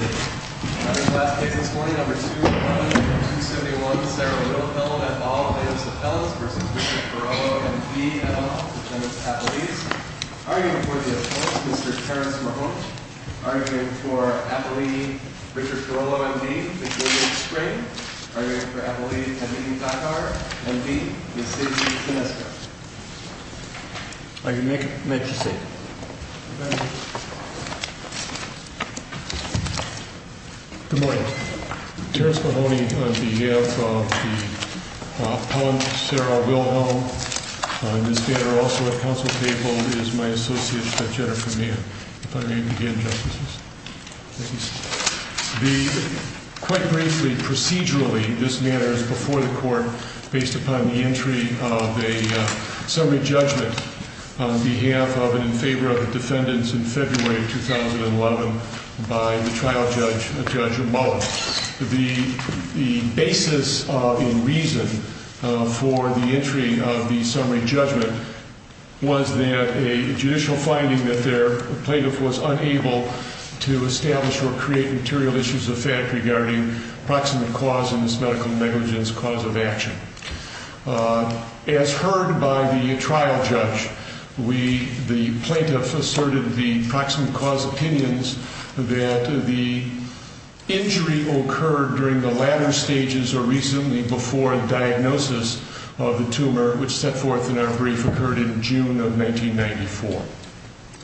I read last case this morning, number 2, 271, Sarah Littlefellow, et al., Davis Appellants v. Richard Carollo, M.D., et al., and its appellees. Arguing for the oppose, Mr. Terrence Marhont. Arguing for appellee Richard Carollo, M.D., Victoria Spring. Arguing for appellee Kennedy Thakar, M.D., Ms. Sydney Sineska. I make a motion. Good morning. Terrence Mahoney on behalf of the appellant, Sarah Wilhelm. Ms. Bader, also at counsel table, is my associate, Jennifer Mann. If I may begin, Justices. Thank you, sir. The, quite briefly, procedurally, this matter is before the Court based upon the entry of a summary judgment on behalf of and in favor of the defendants in February of 2011 by the trial judge, Judge Mullen. The basis in reason for the entry of the summary judgment was that a judicial finding that their plaintiff was unable to establish or create material issues of fact regarding proximate cause in this medical negligence cause of action. As heard by the trial judge, we, the plaintiff, asserted the proximate cause opinions that the injury occurred during the latter stages or recently before diagnosis of the tumor, which set forth in our brief, occurred in June of 1994.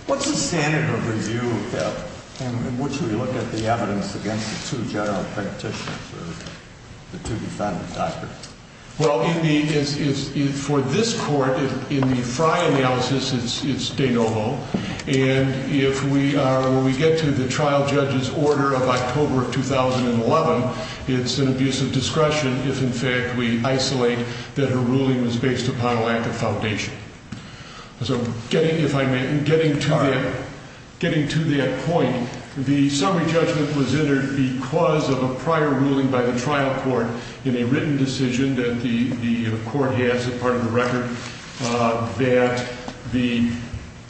What's the standard of review in which we look at the evidence against the two general practitioners, or the two defendants, Dr.? Well, in the, for this Court, in the Frey analysis, it's de novo. And if we are, when we get to the trial judge's order of October of 2011, it's an abuse of discretion if, in fact, we isolate that her ruling was based upon a lack of foundation. So, getting, if I may, getting to that point, the summary judgment was entered because of a prior ruling by the trial court in a written decision that the court has as part of the record that the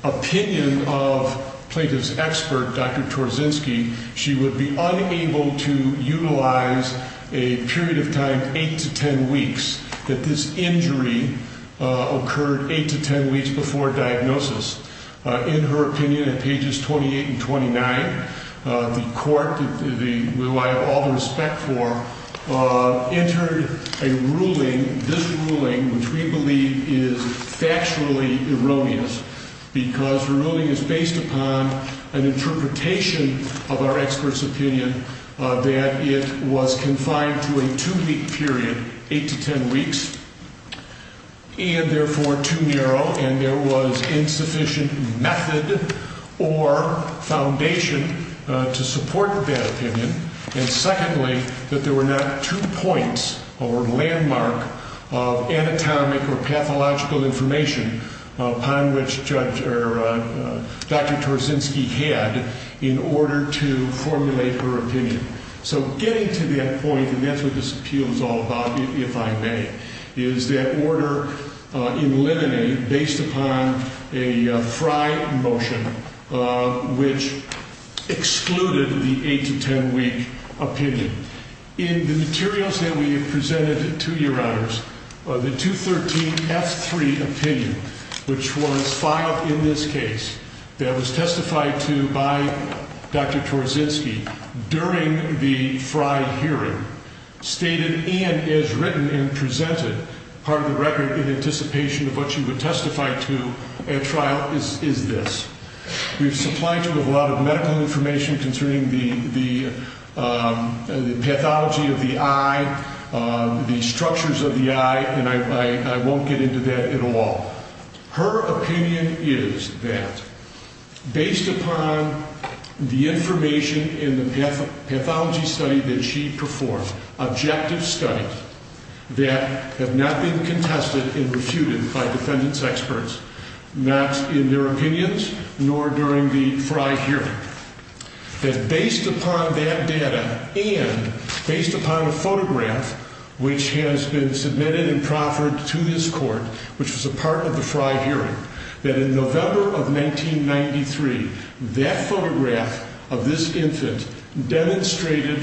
opinion of plaintiff's expert, Dr. Torzynski, she would be unable to utilize a period of time, 8 to 10 weeks, that this injury occurred 8 to 10 weeks before diagnosis. In her opinion, in pages 28 and 29, the court, who I have all the respect for, entered a ruling, this ruling, which we believe is factually erroneous because her ruling is based upon an interpretation of our expert's opinion that it was confined to a two-week period, 8 to 10 weeks, and therefore too narrow, and there was insufficient method or foundation to support that opinion, and secondly, that there were not two points or landmark of anatomic or pathological information upon which Dr. Torzynski had in order to formulate her opinion. So, getting to that point, and that's what this appeal is all about, if I may, is that order eliminated based upon a FRI motion which excluded the 8 to 10 week opinion. In the materials that we have presented to your honors, the 213F3 opinion, which was filed in this case, that was testified to by Dr. Torzynski during the FRI hearing stated, and is written and presented, part of the record in anticipation of what she would testify to at trial is this. We've supplied her with a lot of medical information concerning the pathology of the eye, the structures of the eye, and I won't get into that at all. Her opinion is that based upon the information in the pathology study that she performed, objective studies, that have not been contested and refuted by defendants' experts, not in their opinions nor during the FRI hearing, that based upon that data and based upon a photograph which has been submitted and proffered to this court, which was a part of the FRI hearing, that in November of 1993, that photograph of this infant demonstrated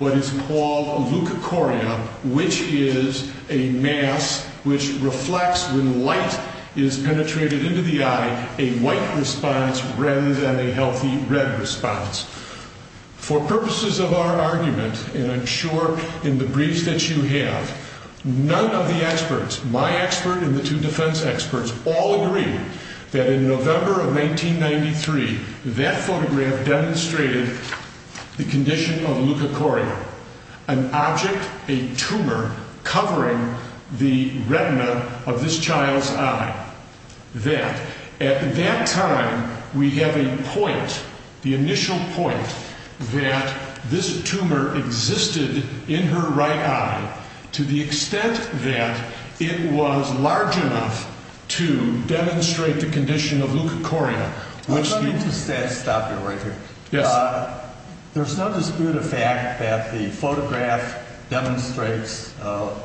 what is called a leukochoria, which is a mass which reflects when light is penetrated into the eye a white response rather than a healthy red response. For purposes of our argument, and I'm sure in the briefs that you have, none of the experts, my expert and the two defense experts, all agree that in November of 1993, that photograph demonstrated the condition of leukochoria, an object, a tumor covering the retina of this child's eye, that at that time we have a point, the initial point, that this tumor existed in her right eye to the extent that it was large enough to demonstrate the condition of leukochoria. Let me just stop you right here. There's no dispute of fact that the photograph demonstrates a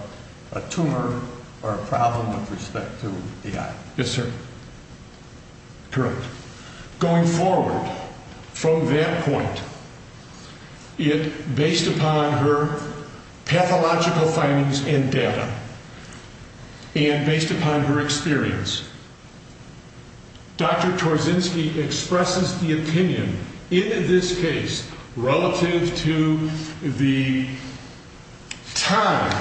tumor or a problem with respect to the eye. Yes, sir. Correct. Going forward from that point, based upon her pathological findings and data and based upon her experience, Dr. Torzynski expresses the opinion in this case relative to the time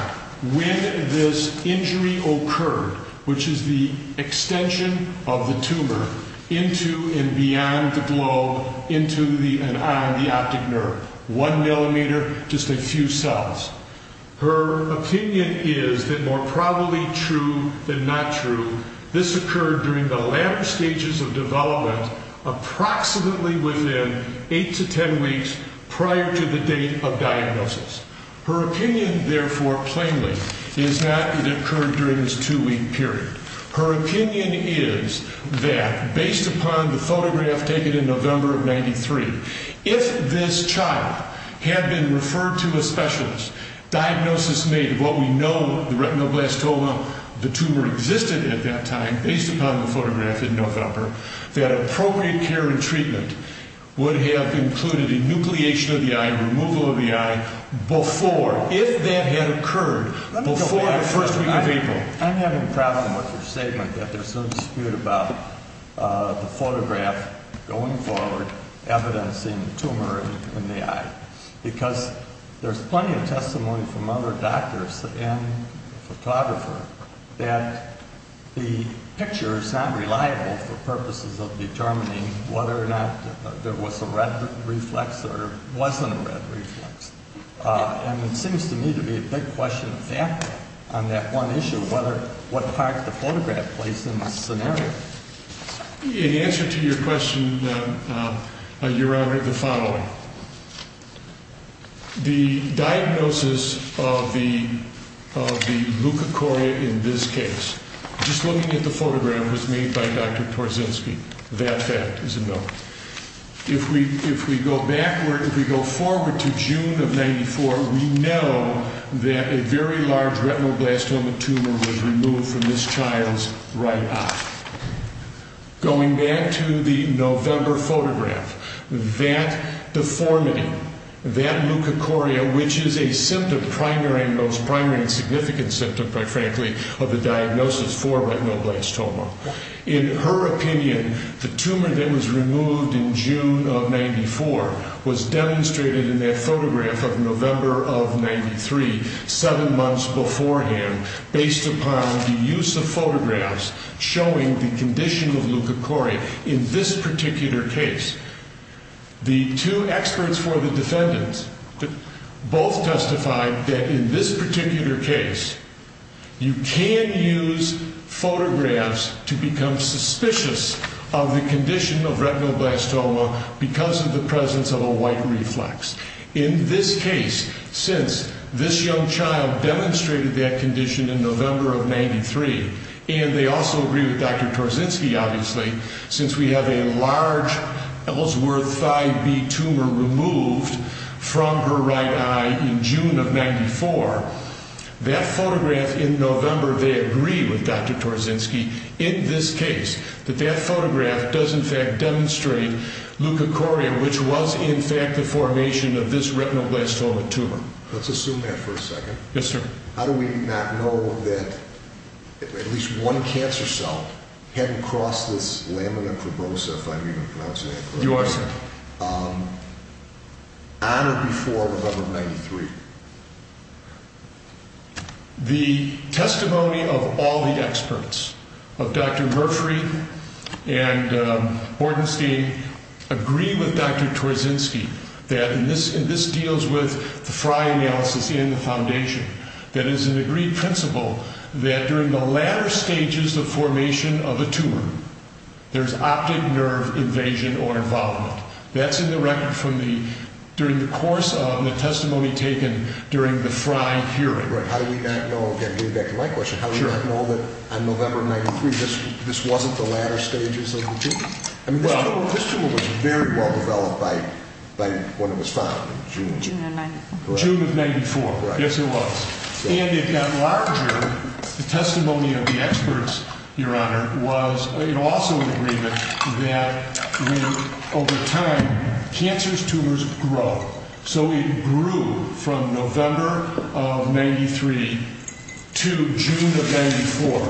when this injury occurred, which is the extension of the tumor into and beyond the globe, into and on the optic nerve. One millimeter, just a few cells. Her opinion is that more probably true than not true, this occurred during the later stages of development approximately within eight to ten weeks prior to the date of diagnosis. Her opinion, therefore, plainly, is that it occurred during this two-week period. Her opinion is that, based upon the photograph taken in November of 93, if this child had been referred to a specialist, diagnosis made of what we know the retinoblastoma, the tumor existed at that time, based upon the photograph in November, that appropriate care and treatment would have included a nucleation of the eye, removal of the eye before, if that had occurred, before the first week of April. I'm having a problem with your statement that there's no dispute about the photograph going forward, evidencing the tumor in the eye, because there's plenty of testimony from other doctors and photographers that the picture is not reliable for purposes of determining whether or not there was a red reflex or wasn't a red reflex. And it seems to me to be a big question on that one issue, what part the photograph plays in the scenario. In answer to your question, Your Honor, the following. Now, the diagnosis of the leukocoria in this case, just looking at the photograph was made by Dr. Torczynski. That fact is a no. If we go forward to June of 94, we know that a very large retinoblastoma tumor was removed from this child's right eye. Going back to the November photograph, that deformity, that leukocoria, which is a symptom, primary and most primary and significant symptom, quite frankly, of the diagnosis for retinoblastoma. In her opinion, the tumor that was removed in June of 94 was demonstrated in that photograph of November of 93, seven months beforehand, based upon the use of photographs showing the condition of leukocoria in this particular case. The two experts for the defendants both testified that in this particular case, you can use photographs to become suspicious of the condition of retinoblastoma because of the presence of a white reflex. In this case, since this young child demonstrated that condition in November of 93, and they also agree with Dr. Torzynski, obviously, since we have a large Ellsworth Thigh B tumor removed from her right eye in June of 94, that photograph in November they agree with Dr. Torzynski in this case, that that photograph does in fact demonstrate leukocoria, which was in fact the formation of this retinoblastoma tumor. Let's assume that for a second. Yes, sir. How do we not know that at least one cancer cell hadn't crossed this lamina probosa, if I'm even pronouncing that correctly. You are, sir. On or before November of 93? The testimony of all the experts of Dr. Murphree and Bordenstein agree with Dr. Torzynski that this deals with the Fry analysis in the foundation. That is an in the latter stages of formation of a tumor, there's optic nerve invasion or involvement. That's in the record from the during the course of the testimony taken during the Fry hearing. Right. How do we not know, getting back to my question, how do we not know that on November of 93, this wasn't the latter stages of the tumor? This tumor was very well developed by when it was found in June of 94. June of 94. Yes, it was. And it got larger. The testimony of the experts, Your Honor, was also in agreement that over time, cancerous tumors grow. So it grew from November of 93 to June of 94.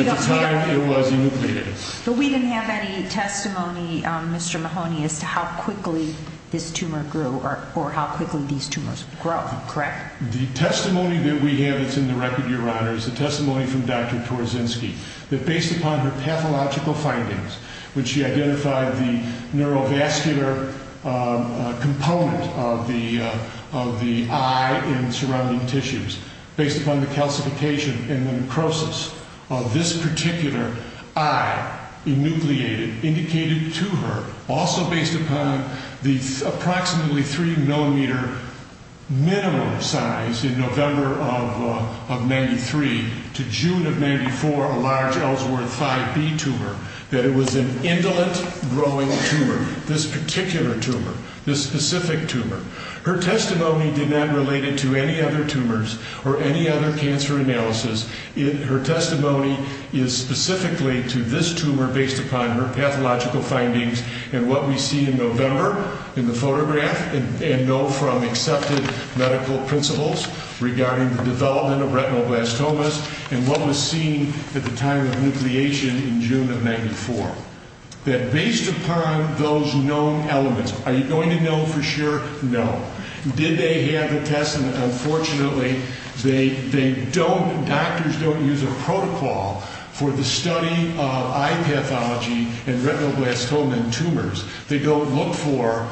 At the time it was enucleated. But we didn't have any testimony, Mr. Mahoney, as to how quickly this tumor grew or how quickly these tumors grew. The testimony that we have that's in the record, Your Honor, is the testimony from Dr. Torzynski, that based upon her pathological findings when she identified the neurovascular component of the eye and surrounding tissues, based upon the calcification and the necrosis of this particular eye, enucleated, indicated to her, also based upon the approximately 3 millimeter minimum size in November of 93 to June of 94, a large Ellsworth 5B tumor, that it was an indolent growing tumor, this particular tumor, this specific tumor. Her testimony did not relate it to any other tumors or any other cancer analysis. Her testimony is specifically to this tumor based upon her pathological findings and what we see in November in the photograph and know from accepted medical principles regarding the development of retinoblastomas and what was seen at the time of nucleation in June of 94. That based upon those known elements, are you going to know for sure? No. Did they have the test? Unfortunately, they don't, doctors don't use a protocol for the study of eye pathology and they don't look for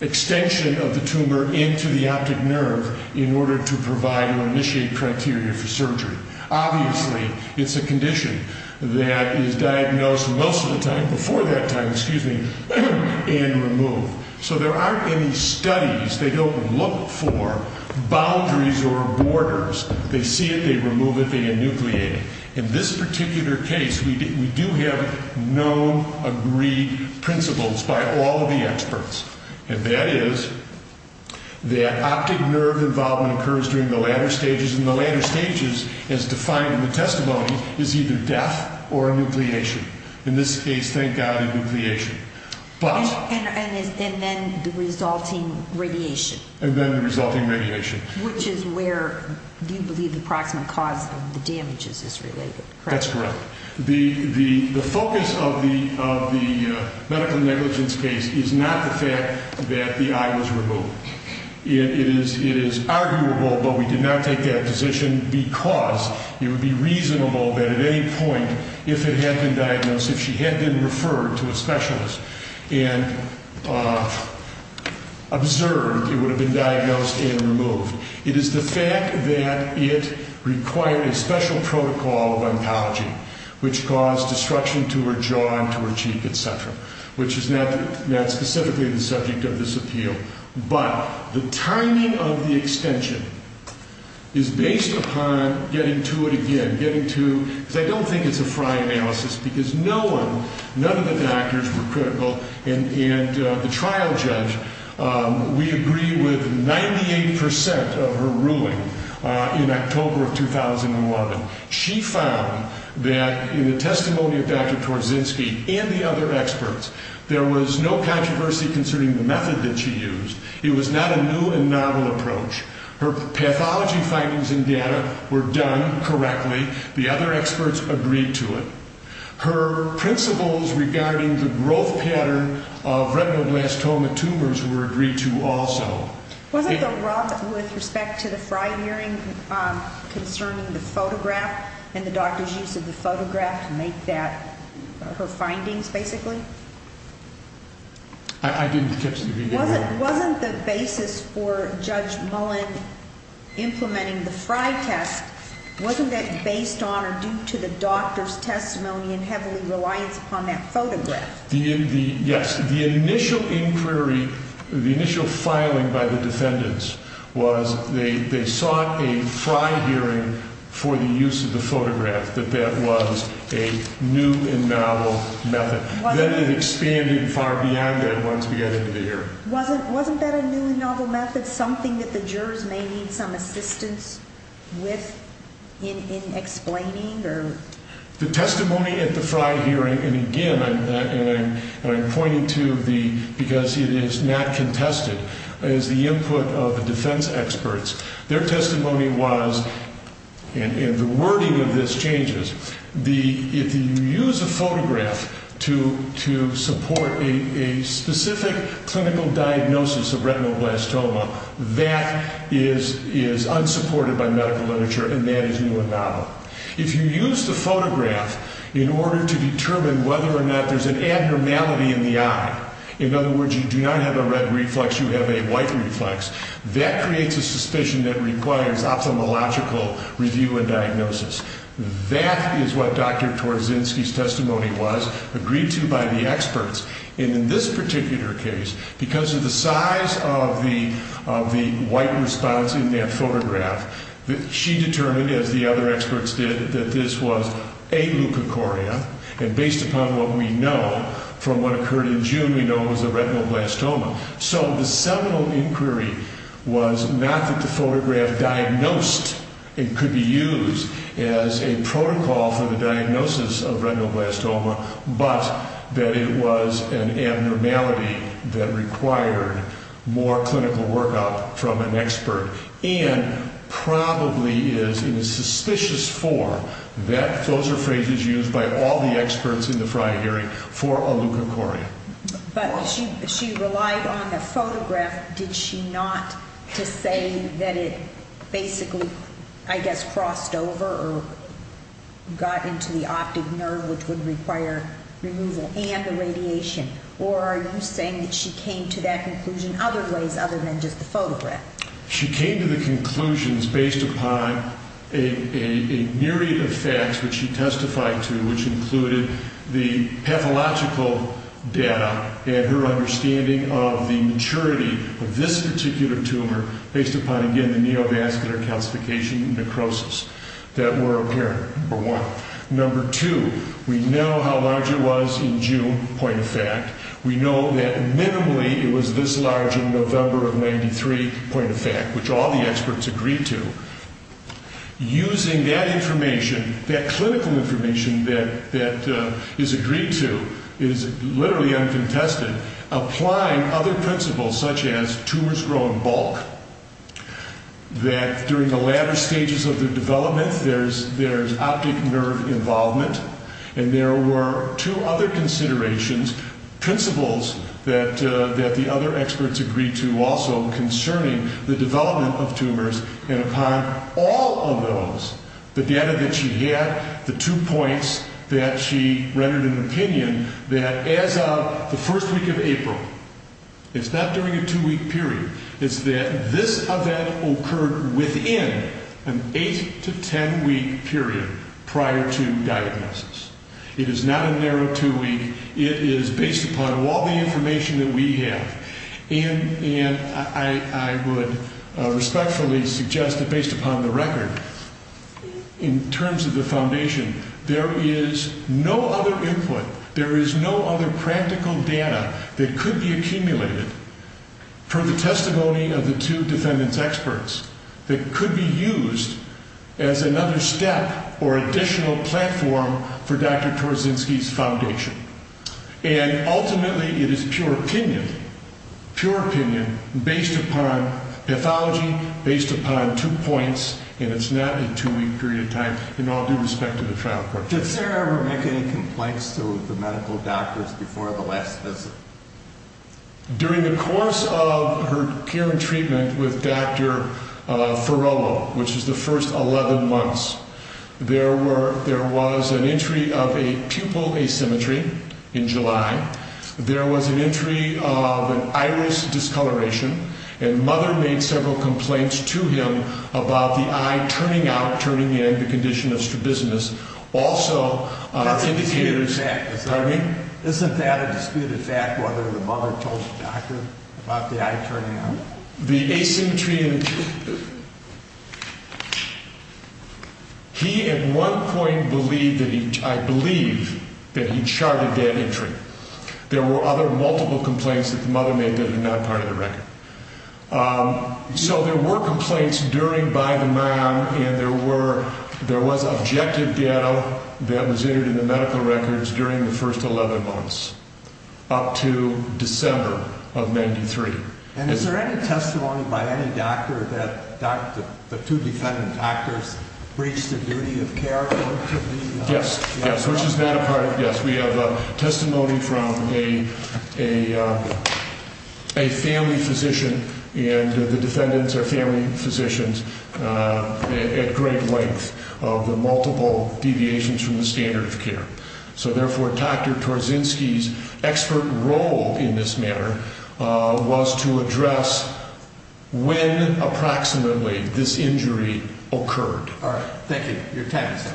extension of the tumor into the optic nerve in order to provide or initiate criteria for surgery. Obviously, it's a condition that is diagnosed most of the time, before that time, excuse me, and removed. So there aren't any studies, they don't look for boundaries or borders. They see it, they remove it, they enucleate it. In this particular case, we do have known agreed principles by all of the experts and that is that optic nerve involvement occurs during the latter stages and the latter stages, as defined in the testimony, is either death or enucleation. In this case, thank God, enucleation. And then the resulting radiation. And then the resulting radiation. Which is where, do you believe, the approximate cause of the damages is related? That's correct. The focus of the medical negligence case is not the fact that the eye was removed. It is arguable, but we did not take that position because it would be reasonable that at any point, if it had been diagnosed, if she had been referred to a specialist and observed, it would have been diagnosed and removed. It is the fact that it required a special protocol of oncology which caused destruction to her jaw and to her cheek, etc. Which is not specifically the subject of this appeal. But the timing of the extension is based upon getting to it again. I don't think it's a fry analysis because no one, none of the doctors were critical and the trial judge, we agree with 98% of her ruling in October of 2011. She found that in the testimony of Dr. Korzynski and the other experts there was no controversy concerning the method that she used. It was not a new and novel approach. Her pathology findings and data were done correctly. The other experts agreed to it. Her principles regarding the growth pattern of retinoblastoma tumors were agreed to also. Wasn't the rub with respect to the fry hearing concerning the photograph and the doctor's use of the photograph to make that her findings, basically? I didn't catch the reading. Wasn't the basis for Judge Mullen implementing the fry test, wasn't that based on or due to the doctor's testimony and heavily reliance upon that photograph? Yes. The initial inquiry, the initial filing by the defendants was they sought a fry hearing for the use of the photograph that that was a new and novel method. Then it expanded far beyond that once we got into the hearing. Wasn't that a new and novel method, something that the jurors may need some assistance with in explaining? The testimony at the fry hearing, and again, I'm pointing to the, because it is not contested, is the input of the defense experts. Their testimony was, and the wording of this changes, if you use a photograph to support a specific clinical diagnosis of retinoblastoma, that is unsupported by medical literature, and that is new and novel. If you use the photograph in order to determine whether or not there's an abnormality in the eye, in other words, you do not have a red reflex, you have a white reflex, that creates a suspicion that requires ophthalmological review and diagnosis. That is what Dr. Torzynski's testimony was, agreed to by the experts, and in this particular case, because of the size of the white response in that photograph, she determined, as the other experts did, that this was a leukocoria, and based upon what we know, from what occurred in June, we know it was a retinoblastoma. So the seminal inquiry was not that the photograph diagnosed it could be used as a protocol for the diagnosis of retinoblastoma, but that it was an abnormality that required more clinical workup from an expert, and probably is, in a suspicious form, that those are phrases used by all the experts in the prior hearing for a leukocoria. But she relied on the photograph, did she not to say that it basically, I guess, crossed over or got into the optic nerve, which would require removal and the radiation, or are you saying that she came to that conclusion other ways other than just the photograph? She came to the conclusions based upon a myriad of facts which she testified to, which included the pathological data and her understanding of the maturity of this particular tumor based upon, again, the neovascular calcification and necrosis that were apparent, number one. Number two, we know how large it was in June, point of fact. We know that minimally it was this large in November of 93, point of fact, which all the experts agreed to. Using that information, that clinical information that is agreed to is literally uncontested, applying other principles such as tumors grow in bulk, that during the latter stages of the development there's optic nerve involvement, and there were two other considerations, principles that the other experts agreed to also concerning the development of tumors, and upon all of those the data that she had, the two points that she rendered an opinion that as of the first week of April, it's not during a two-week period, it's that this event occurred within an eight to ten-week period prior to diagnosis. It is not a narrow two-week, it is based upon all the information that we have, and I would respectfully suggest that based upon the record, in terms of the foundation, there is no other input, there is no other practical data that could be accumulated for the testimony of the two defendants' experts that could be used as another step or additional platform for Dr. Torzynski's foundation. And ultimately it is pure opinion, pure opinion, based upon pathology, based upon two points, and it's not a two-week period of time, in all due respect to the trial court. Did Sarah ever make any complaints to the medical doctors before the last visit? During the course of her care and treatment with Dr. Ferrello, which is the first 11 months, there was an entry of a pupil asymmetry in July, there was an entry of an iris discoloration, and mother made several complaints to him about the eye turning out, turning in, the condition of strabismus. Also, our indicators... Pardon me? Isn't that a disputed fact, whether the mother told the doctor about the eye turning out? The asymmetry... He, at one point, believed that he... I believe that he charted that entry. There were other multiple complaints that the mother made that are not part of the record. So there were complaints during by the mound, and there were... there was objective data that was entered in the medical records during the first 11 months, up to December of 93. And is there any testimony, doctor, that the two defendant doctors breached the duty of care? Yes, yes, which is not a part of... Yes, we have testimony from a family physician, and the defendants are family physicians at great length of the multiple deviations from the standard of care. So therefore, Dr. Torzynski's expert role in this matter was to address when, approximately, this injury occurred. All right. Thank you. Your time is up.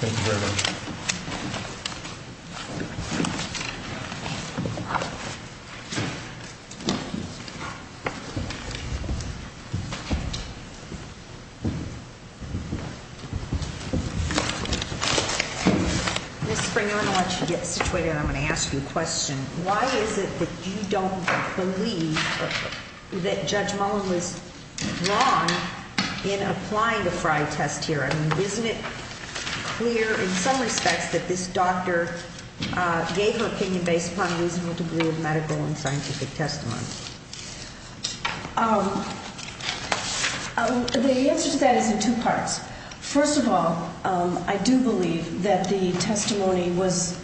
Thank you very much. Ms. Springer, I'm going to let you get situated, and I'm going to ask you a question. Why is it that you don't believe that Judge Mullen was wrong in applying the Frey test here? I mean, isn't it clear, in some respects, that this doctor gave her opinion based upon a reasonable degree of medical and scientific testimony? The answer to that is in two parts. First of all, I do believe that the testimony was...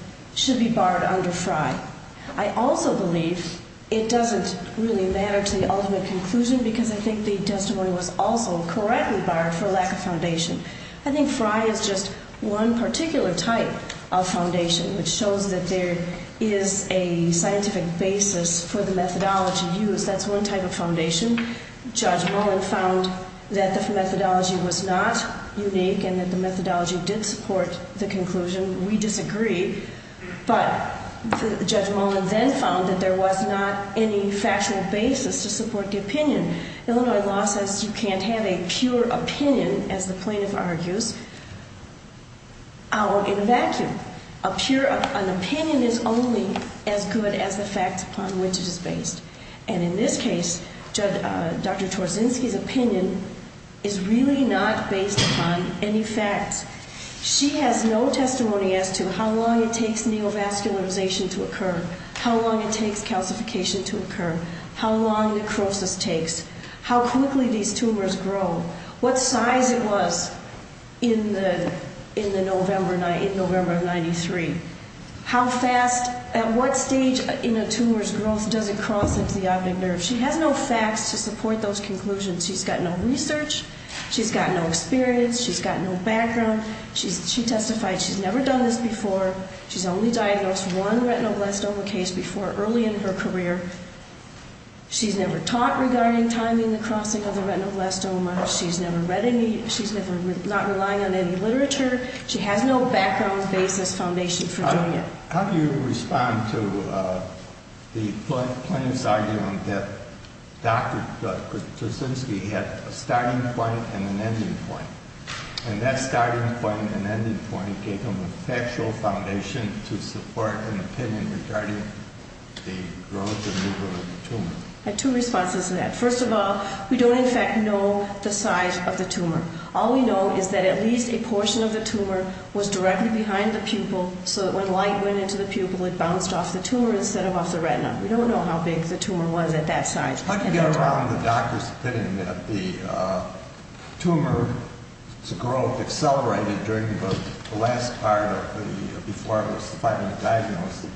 I also believe it doesn't really matter to the ultimate conclusion because I think the testimony was also correctly barred for lack of foundation. I think Frey is just one particular type of foundation, which shows that there is a scientific basis for the methodology used. That's one type of foundation. Judge Mullen found that the methodology was not unique and that the methodology did support the conclusion. We disagree, but Judge Mullen then found that there was not any factual basis to support the opinion. Illinois law says you can't have a pure opinion, as the plaintiff argues, out in a vacuum. An opinion is only as good as the facts upon which it is based. And in this case, Dr. Torzynski's opinion is really not based upon any facts. She has no testimony as to how long it takes neovascularization to occur, how long it takes calcification to occur, how long necrosis takes, how quickly these tumors grow, what size it was in November of 1993, at what stage in a tumor's growth does it cross into the optic nerve. She has no facts to support those conclusions. She's got no research. She's got no experience. She's got no background. She testified she's never done this before. She's only diagnosed one retinoblastoma case before early in her career. She's never taught regarding timing the crossing of the retinoblastoma. She's never read any. She's never not relying on any literature. She has no background, basis, foundation for doing it. How do you respond to the plaintiff's argument that Dr. Torzynski had a starting point and an ending point, and that starting point and ending point gave him a factual foundation to support an opinion regarding the growth and removal of the tumor? I had two responses to that. First of all, we don't in fact know the size of the tumor. All we know is that at least a portion of the tumor was directly behind the pupil so that when light went into the pupil it bounced off the tumor instead of off the retina. We don't know how big the tumor was at that size. How do you get around the doctor's opinion that the tumor's growth accelerated during the last part before it was finally diagnosed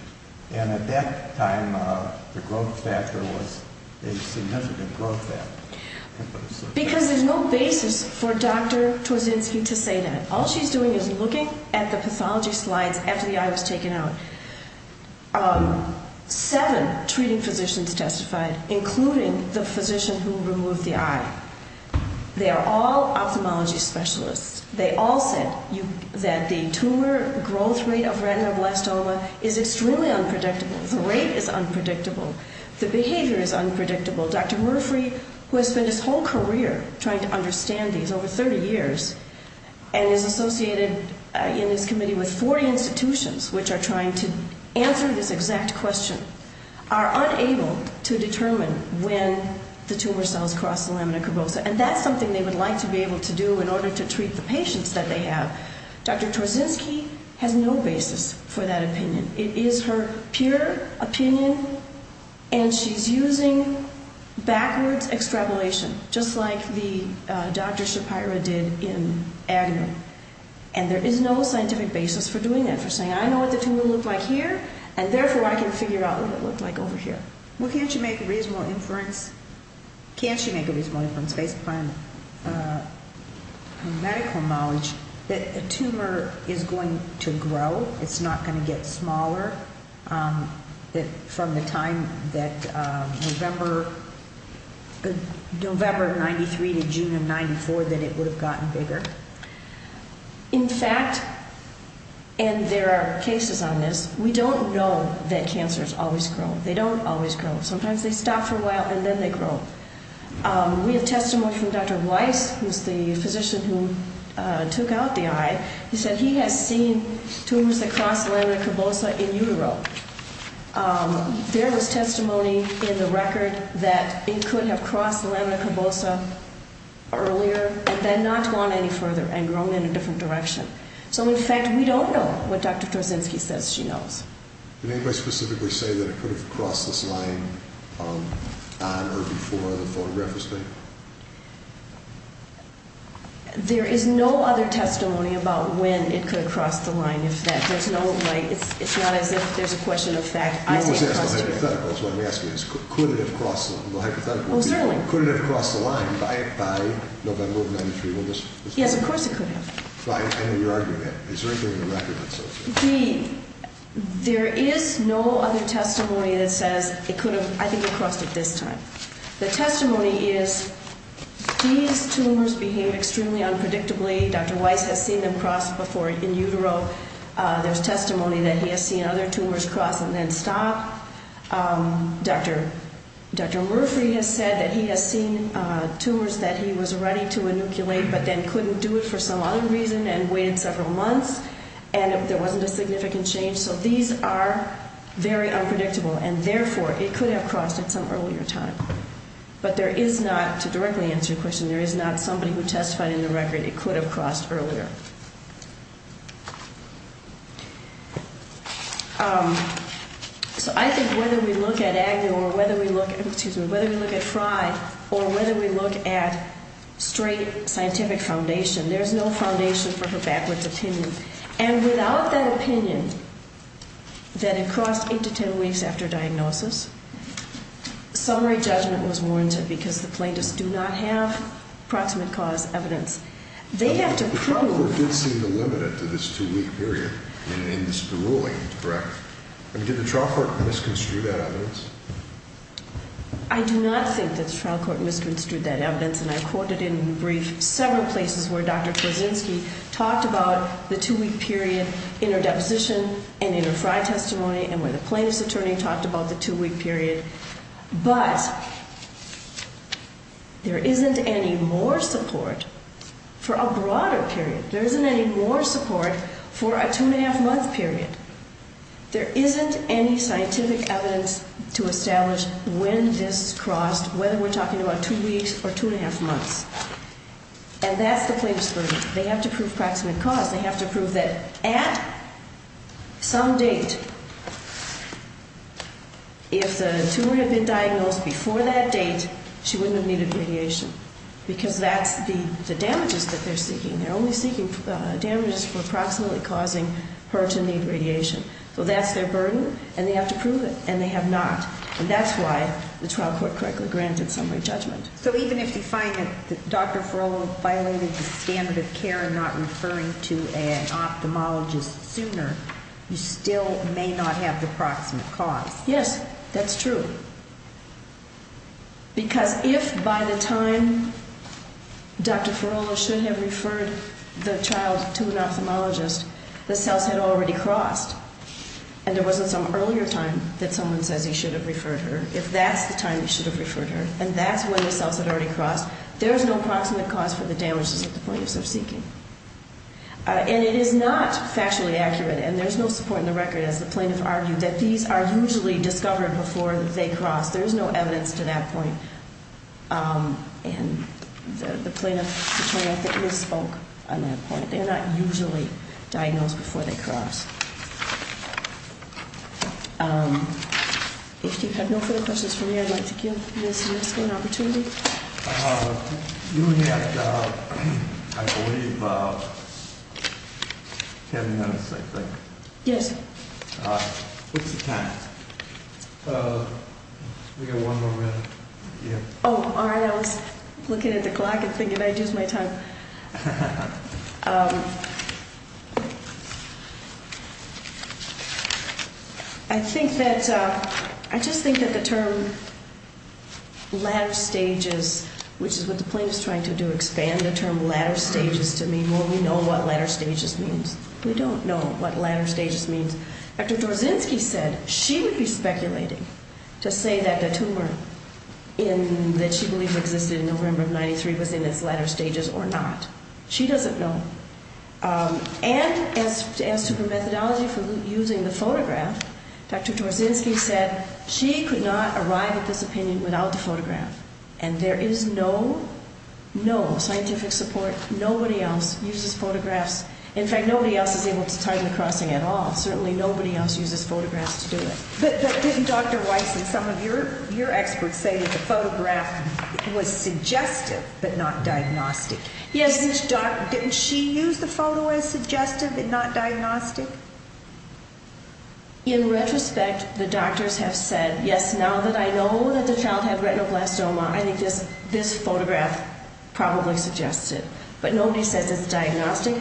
and at that time the growth factor was a significant growth factor? Because there's no basis for Dr. Torzynski to say that. All she's doing is looking at the pathology slides after the eye was taken out. Seven treating physicians testified, including the physician who removed the eye. They are all ophthalmology specialists. They all said that the tumor growth rate of retinoblastoma is extremely unpredictable. The rate is unpredictable. The behavior is unpredictable. Dr. Murphy, who has spent his whole career trying to understand these over 30 years and is associated in this committee with 40 institutions which are trying to answer this exact question, are unable to determine when the tumor cells cross the lamina curvosa. And that's something they would like to be able to do in order to treat the patients that they have. Dr. Torzynski has no basis for that opinion. It is her pure opinion and she's using backwards extrapolation, just like Dr. Shapira did in Agnew. And there is no scientific basis for doing that, for saying, I know what the tumor will look like over here and therefore I can figure out what it will look like over here. Well, can't you make a reasonable inference based upon medical knowledge that a tumor is going to grow? It's not going to get smaller from the time that November of 93 to June of 94 that it would have gotten bigger. In fact, and there are cases on this, we don't know that cancers always grow. They don't always grow. Sometimes they stop for a while and then they grow. We have testimony from Dr. Weiss, who's the physician who took out the eye. He said he has seen tumors that cross lamina curvosa in utero. There was testimony in the record that it could have crossed lamina curvosa earlier and then not gone any further and grown in a different direction. So, in fact, we don't know what Dr. Thorzinski says she knows. Did anybody specifically say that it could have crossed this line on or before the photograph was taken? There is no other testimony about when it could have crossed the line. There's no way. It's not as if there's a question of fact. You always ask the hypothetical. That's what I'm asking. Could it have crossed the line by November of 93? Yes, of course it could have. I know you're arguing that. Is there anything in the record that says that? There is no other testimony that says it could have. I think it crossed it this time. The testimony is these tumors behave extremely unpredictably. Dr. Weiss has seen them cross before in utero. There's testimony that he has seen other tumors cross and then stop. Dr. Murphy has said that he has seen tumors that he was ready to inoculate but then couldn't do it for some other reason and waited several months and there wasn't a significant change. So these are very unpredictable and therefore it could have crossed at some earlier time. But there is not to directly answer your question, there is not somebody who testified in the record it could have crossed earlier. So I think whether we look at Agnew or whether we look at Fry or whether we look at straight scientific foundation, there is no foundation for her backwards opinion. And without that opinion that it crossed 8-10 weeks after diagnosis, summary judgment was warranted because the plaintiffs do not have proximate cause evidence. The trial court did seem to limit it to this two week period in this ruling, correct? Did the trial court misconstrued that evidence? I do not think that the trial court misconstrued that evidence and I quoted in brief several places where Dr. Korzynski talked about the two week period inter-deposition and inter-Fry testimony and where the plaintiff's attorney talked about the two week period. But there isn't any more support for a broader period. There isn't any more support for a two and a half month period. There isn't any scientific evidence to establish when this crossed, whether we're talking about two weeks or two and a half months. And that's the plaintiff's verdict. They have to prove proximate cause. They have to prove that at some date if the tumor had been diagnosed before that date, she wouldn't have needed radiation because that's the damages that they're seeking. They're only seeking damages for approximately causing her to need radiation. So that's their burden and they have to prove it. And they have not. And that's why the trial court correctly granted summary judgment. So even if you find that Dr. Ferolo violated the standard of care in not referring to an ophthalmologist sooner, you still may not have the proximate cause. Yes, that's true. Because if by the time Dr. Ferolo should have referred the child to an ophthalmologist, the cells had already crossed and there wasn't some earlier time that someone says he should have referred her if that's the time he should have referred her and that's when the cells had already crossed there's no proximate cause for the damages that the plaintiffs are seeking. And it is not factually accurate and there's no support in the record as the plaintiff argued that these are usually discovered before they cross. There's no evidence to that point. And the they're not usually diagnosed before they cross. If you have no further questions for me, I'd like to give Ms. Nisga'a an opportunity. You have, I believe, ten minutes, I think. Yes. What's the time? We've got one more minute. Oh, all right. I was looking at the clock and thinking what did I do to my time? I think that, I just think that the term ladder stages, which is what the plaintiff is trying to do, expand the term ladder stages to mean, well, we know what ladder stages means. We don't know what ladder stages means. Dr. Dorzinski said she would be speculating to say that the tumor in, that she believed existed in November of 93 was in its ladder stages or not. She doesn't know. And as to her methodology for using the photograph, Dr. Dorzinski said she could not arrive at this opinion without the photograph. And there is no scientific support. Nobody else uses photographs. In fact, nobody else is able to tie the crossing at all. Certainly nobody else uses photographs to do it. But didn't Dr. Weiss and some of your experts say that the photograph was suggestive but not diagnostic? Yes. Didn't she use the photo as suggestive and not diagnostic? In retrospect, the doctors have said, yes, now that I know that the child had retinoblastoma, I think this photograph probably suggests it. But nobody says it's diagnostic.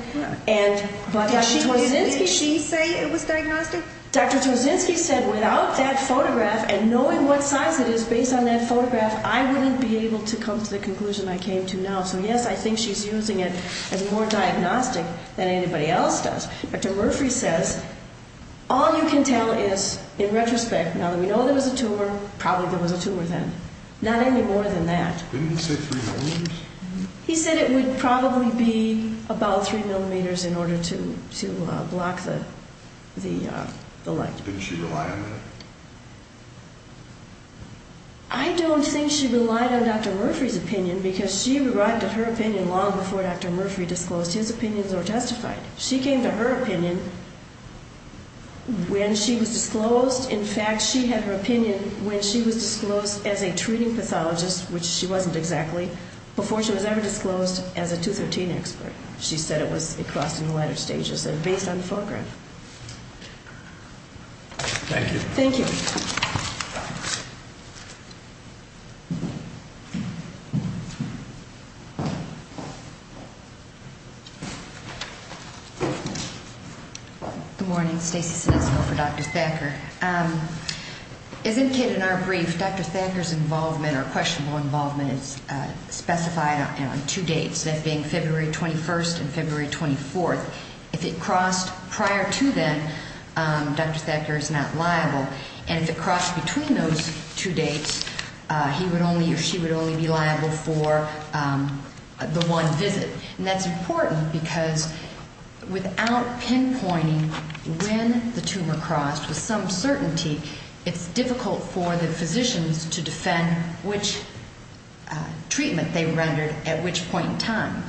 Did she say it was diagnostic? Dr. Dorzinski said without that photograph and knowing what size it is based on that photograph, I wouldn't be able to come to the conclusion I came to now. So yes, I think she's using it as more diagnostic than anybody else does. Dr. Murphy says all you can tell is, in retrospect, now that we know there was a tumor, probably there was a tumor then. Not any more than that. Didn't he say 3 millimeters? He said it would probably be about 3 millimeters in order to block the light. Didn't she rely on that? I don't think she relied on Dr. Murphy's opinion because she arrived at her opinion long before Dr. Murphy disclosed his opinions or testified. She came to her opinion when she was disclosed. In fact, she had her opinion when she was disclosed as a treating pathologist, which she wasn't exactly, before she was ever disclosed as a 213 expert. She said it was across in the latter stages and based on the photograph. Thank you. Good morning. Stacey Sonesco for Dr. Thacker. As indicated in our brief, Dr. Thacker's involvement or questionable involvement is specified on two dates, that being February 21st and February 24th. If it crossed prior to then, Dr. Thacker is not liable. And if it crossed between those two dates, he would only or she would only be liable for the one visit. And that's important because without pinpointing when the tumor crossed with some certainty, it's difficult for the physicians to defend which treatment they rendered at which point in time.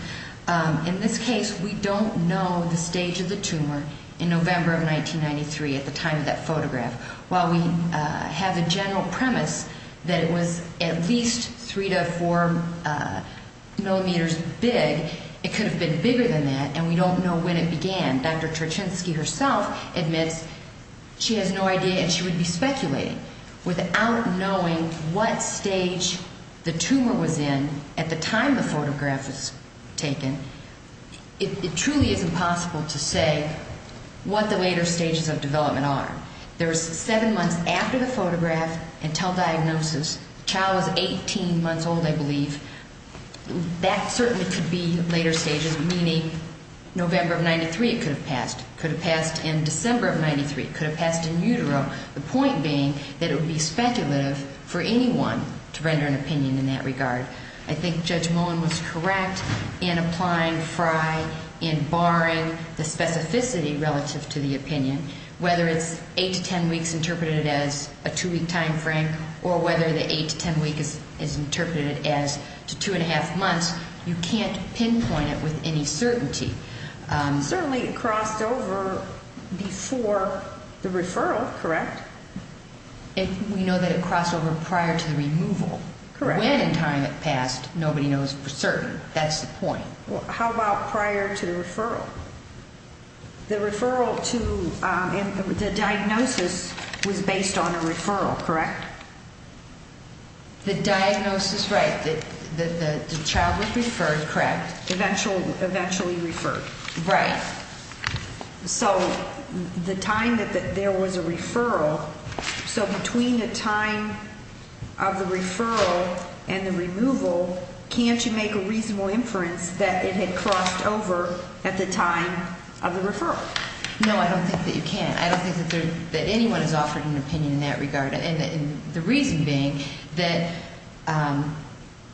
In this case, we don't know the stage of the tumor in November of 1993 at the time of that photograph. While we have a general premise that it was at least three to four millimeters big, it could have been bigger than that, and we don't know when it began. Dr. Terchinsky herself admits she has no idea and she would be speculating without knowing what stage the tumor was in at the time the photograph was taken. It truly is impossible to say what the later stages of development are. There was seven months after the photograph until diagnosis. The child was 18 months old, I believe. That certainly could be later stages, meaning November of 1993 it could have passed. It could have passed in December of 1993. It could have passed in utero. The point being that it would be speculative for anyone to render an opinion in that regard. I think Judge Mullen was correct in applying Fry and barring the specificity relative to the opinion. Whether it's eight to ten weeks interpreted as a two-week time frame or whether the eight to ten week is interpreted as two and a half months, you can't pinpoint it with any certainty. Certainly it crossed over before the referral, correct? We know that it went in time it passed. Nobody knows for certain. That's the point. How about prior to the referral? The referral to the diagnosis was based on a referral, correct? The diagnosis, right. The child was referred, correct. Eventually referred. Right. So the time that there was a referral, so between the time of the referral and the removal, can't you make a reasonable inference that it had crossed over at the time of the referral? No, I don't think that you can. I don't think that anyone has offered an opinion in that regard. The reason being that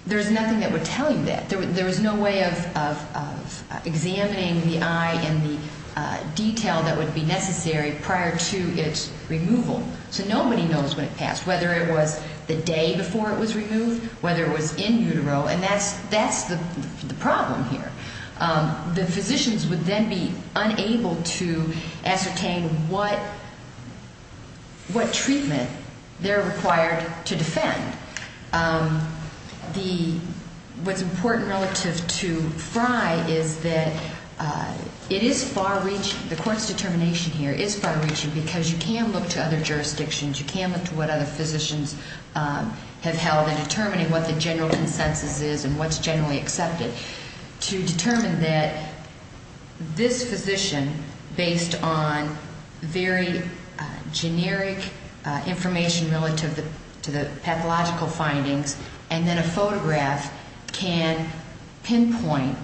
there's nothing that would tell you that. There was no way of examining the eye and the detail that would be necessary prior to its removal. So nobody knows when it passed, whether it was the day before it was removed, whether it was in utero, and that's the problem here. The physicians would then be unable to ascertain what treatment they're required to defend. What's important relative to Frye is that it is far-reaching, the Court's determination here is far-reaching because you can look to other jurisdictions, you can look to what other physicians have held in determining what the general consensus is and what's generally accepted to determine that this physician, based on very generic information relative to the pathological findings, and then a photograph can pinpoint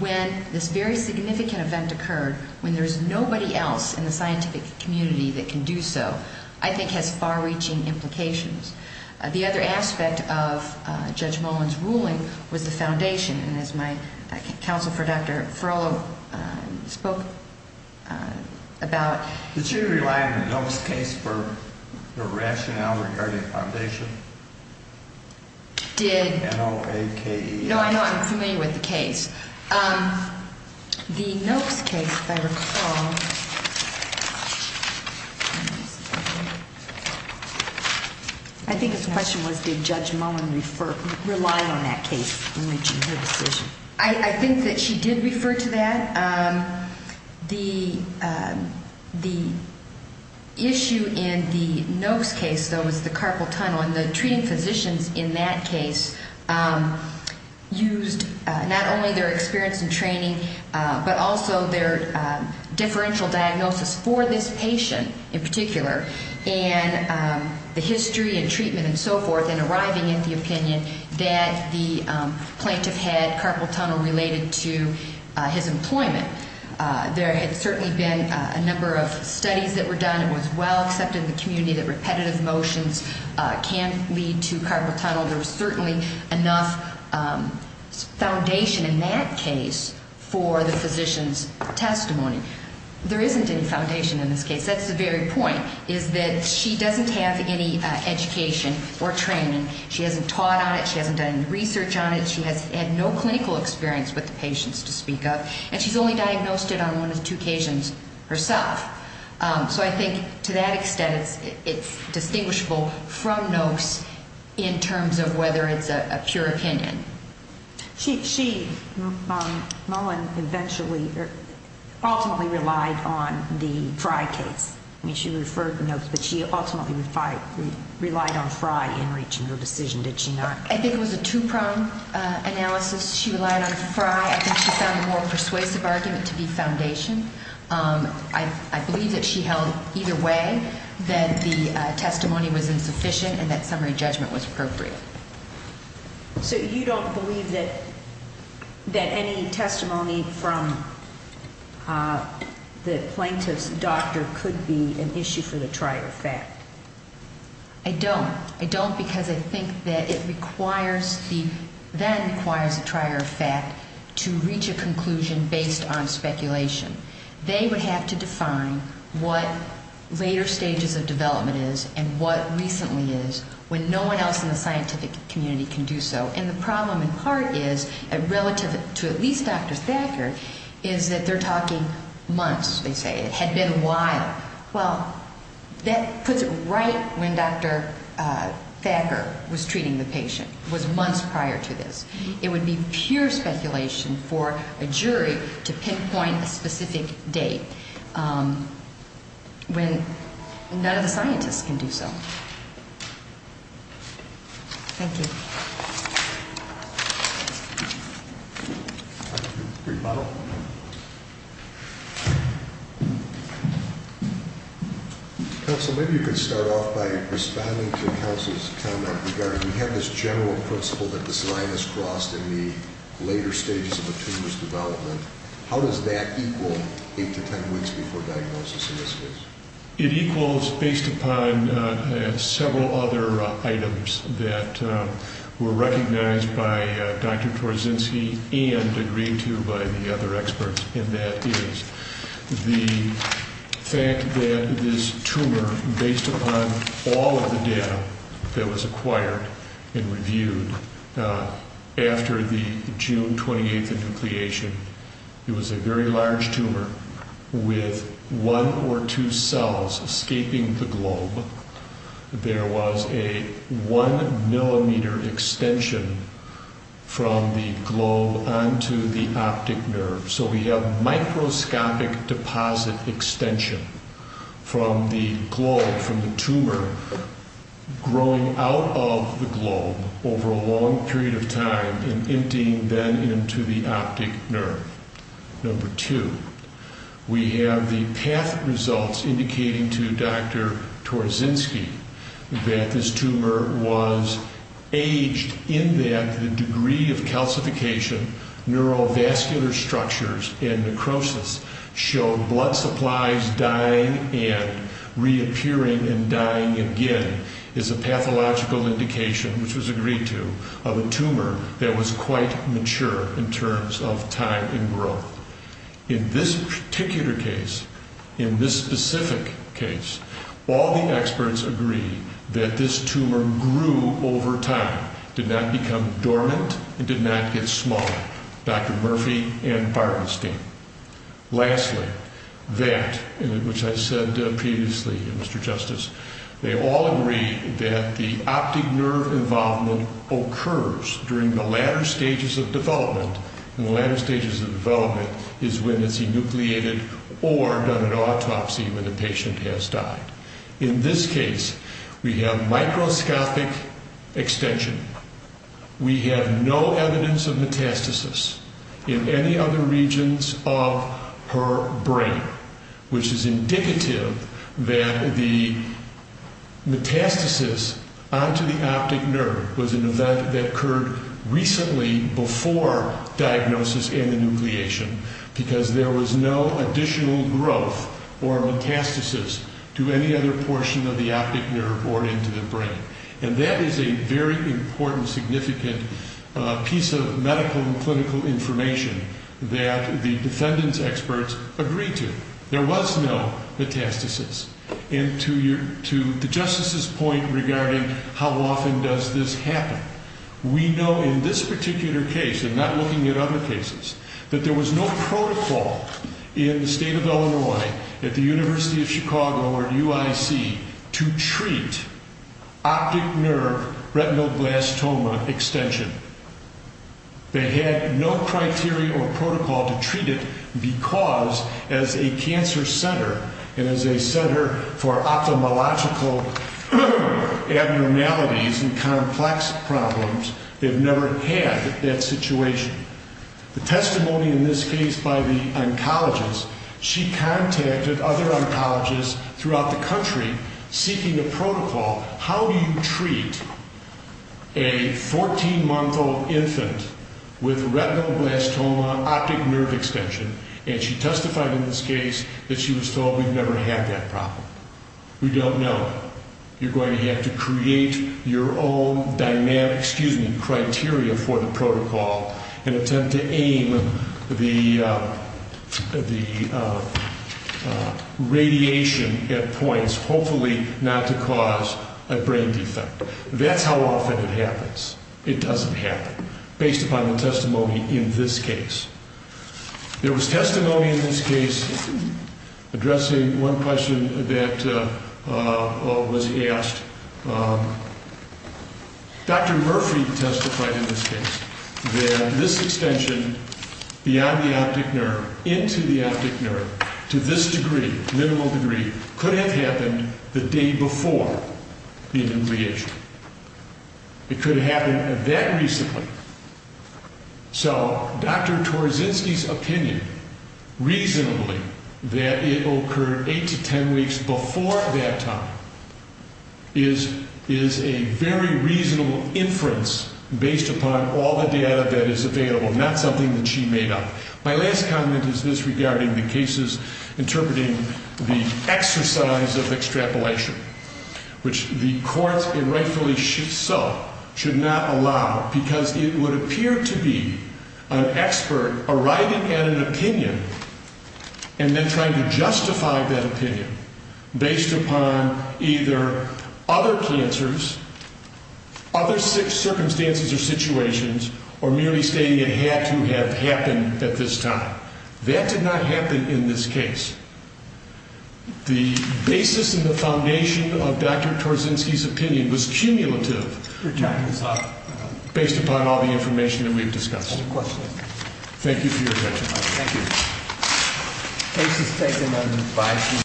when this very significant event occurred, when there's nobody else in the scientific community that can do so, I think has far-reaching implications. The other aspect of Judge Mullen's ruling was the foundation, and as my counsel for Dr. Ferolo spoke about... Did you rely on the Nopes case for your rationale regarding foundation? Did... No, I'm familiar with the case. The Nopes case, if I recall... I think his question was did Judge Mullen rely on that case in reaching her decision. I think that she did refer to that. The issue in the Nopes case, though, was the carpal tunnel, and the treating physicians in that case used not only their experience and training, but also their differential diagnosis for this patient in particular, and the history and treatment and so forth in arriving at the opinion that the plaintiff had carpal tunnel related to his employment. There had certainly been a number of studies that were done. It was well accepted in the community that repetitive motions can lead to carpal tunnel. There was certainly enough foundation in that case for the physician's testimony. There isn't any foundation in this case. That's the very point, is that she doesn't have any education or training. She hasn't taught on it. She hasn't done any research on it. She has had no clinical experience with the patients to speak of, and she's only diagnosed it on one of two occasions herself. So I think to that extent it's distinguishable from Nopes in terms of whether it's a pure opinion. She ultimately relied on the Fry case. I mean, she referred to Nopes, but she ultimately relied on Fry in reaching her decision, did she not? I think it was a two-prong analysis. She relied on Fry. I think she found the more persuasive argument to be foundation. I believe that she held either way, that the testimony was insufficient and that summary judgment was appropriate. So you don't believe that any testimony from the plaintiff's doctor could be an issue for the trial of fact? I don't. I don't because I think that it requires the trial of fact to reach a conclusion based on speculation. They would have to determine what the later stages of development is and what recently is when no one else in the scientific community can do so. And the problem in part is relative to at least Dr. Thacker, is that they're talking months, they say. It had been a while. Well, that puts it right when Dr. Thacker was treating the patient, was months prior to this. It would be pure speculation for a jury to pinpoint a specific date. When none of the scientists can do so. Thank you. Counsel, maybe you could start off by responding to counsel's comment regarding, we have this general principle that this line is crossed in the later stages of a tumor's development. How does that equal eight to ten weeks before diagnosis in this case? It equals based upon several other items that were recognized by Dr. Torzynski and agreed to by the other experts, and that is the fact that this tumor, based upon all of the data that was acquired and reviewed after the June 28th nucleation, it was a very large tumor with one or two cells escaping the globe. There was a one millimeter extension from the globe onto the optic nerve. So we have microscopic deposit extension from the globe, from the tumor growing out of the globe over a long period of time and emptying then into the optic nerve. Number two, we have the PATH results indicating to Dr. Torzynski that this tumor was aged in that the degree of calcification, neurovascular structures, and necrosis showed blood supplies dying and reappearing and dying again is a pathological indication, which was quite mature in terms of time and growth. In this particular case, in this specific case, all the experts agree that this tumor grew over time, did not become dormant, and did not get smaller. Dr. Murphy and Barenstein. Lastly, that, which I said previously, Mr. Justice, they all agree that the optic nerve involvement occurs during the latter stages of development, and the latter stages of development is when it's enucleated or done an autopsy when the patient has died. In this case, we have microscopic extension. We have no evidence of metastasis in any other regions of her brain, which is indicative that the metastasis onto the optic nerve was an event that occurred recently before diagnosis and enucleation because there was no additional growth or metastasis to any other portion of the optic nerve or into the brain. And that is a very important, significant piece of medical and clinical information that the defendant's experts agreed to. There was no metastasis. And to the Justice's point regarding how often does this happen, we know in this particular case and not looking at other cases, that there was no protocol in the state of Illinois, at the University of Chicago or UIC to treat optic nerve retinoblastoma extension. They had no criteria or protocol to treat it because as a cancer center and as a center for ophthalmological abnormalities and complex problems, they've never had that situation. The testimony in this case by the oncologist, she contacted other oncologists throughout the country seeking a protocol. How do you treat a 14-month-old infant with retinoblastoma optic nerve extension? And she testified in this case that she was told we've never had that problem. We don't know. You're going to have to create your own dynamic, excuse me, criteria for the protocol and attempt to aim the radiation at points, hopefully not to cause a brain defect. That's how often it happens. It doesn't happen. Based upon the testimony in this case, addressing one question that was asked, Dr. Murphy testified in this case that this extension beyond the optic nerve, into the optic nerve to this degree, minimal degree, could have happened the day before the enucleation. It could have happened that recently. So Dr. Korzynski's opinion, reasonably, that it occurred 8 to 10 weeks before that time is a very reasonable inference based upon all the data that is available, not something that she made up. My last comment is this regarding the cases interpreting the exercise of extrapolation, which the courts rightfully should not allow because it would appear to be an expert arriving at an opinion and then trying to justify that opinion based upon either other cancers, other circumstances or situations, or merely stating it had to have happened at this time. That did not happen in this case. The basis and the foundation of Dr. Korzynski's opinion was cumulative based upon all the information that we've discussed. Thank you for your attention.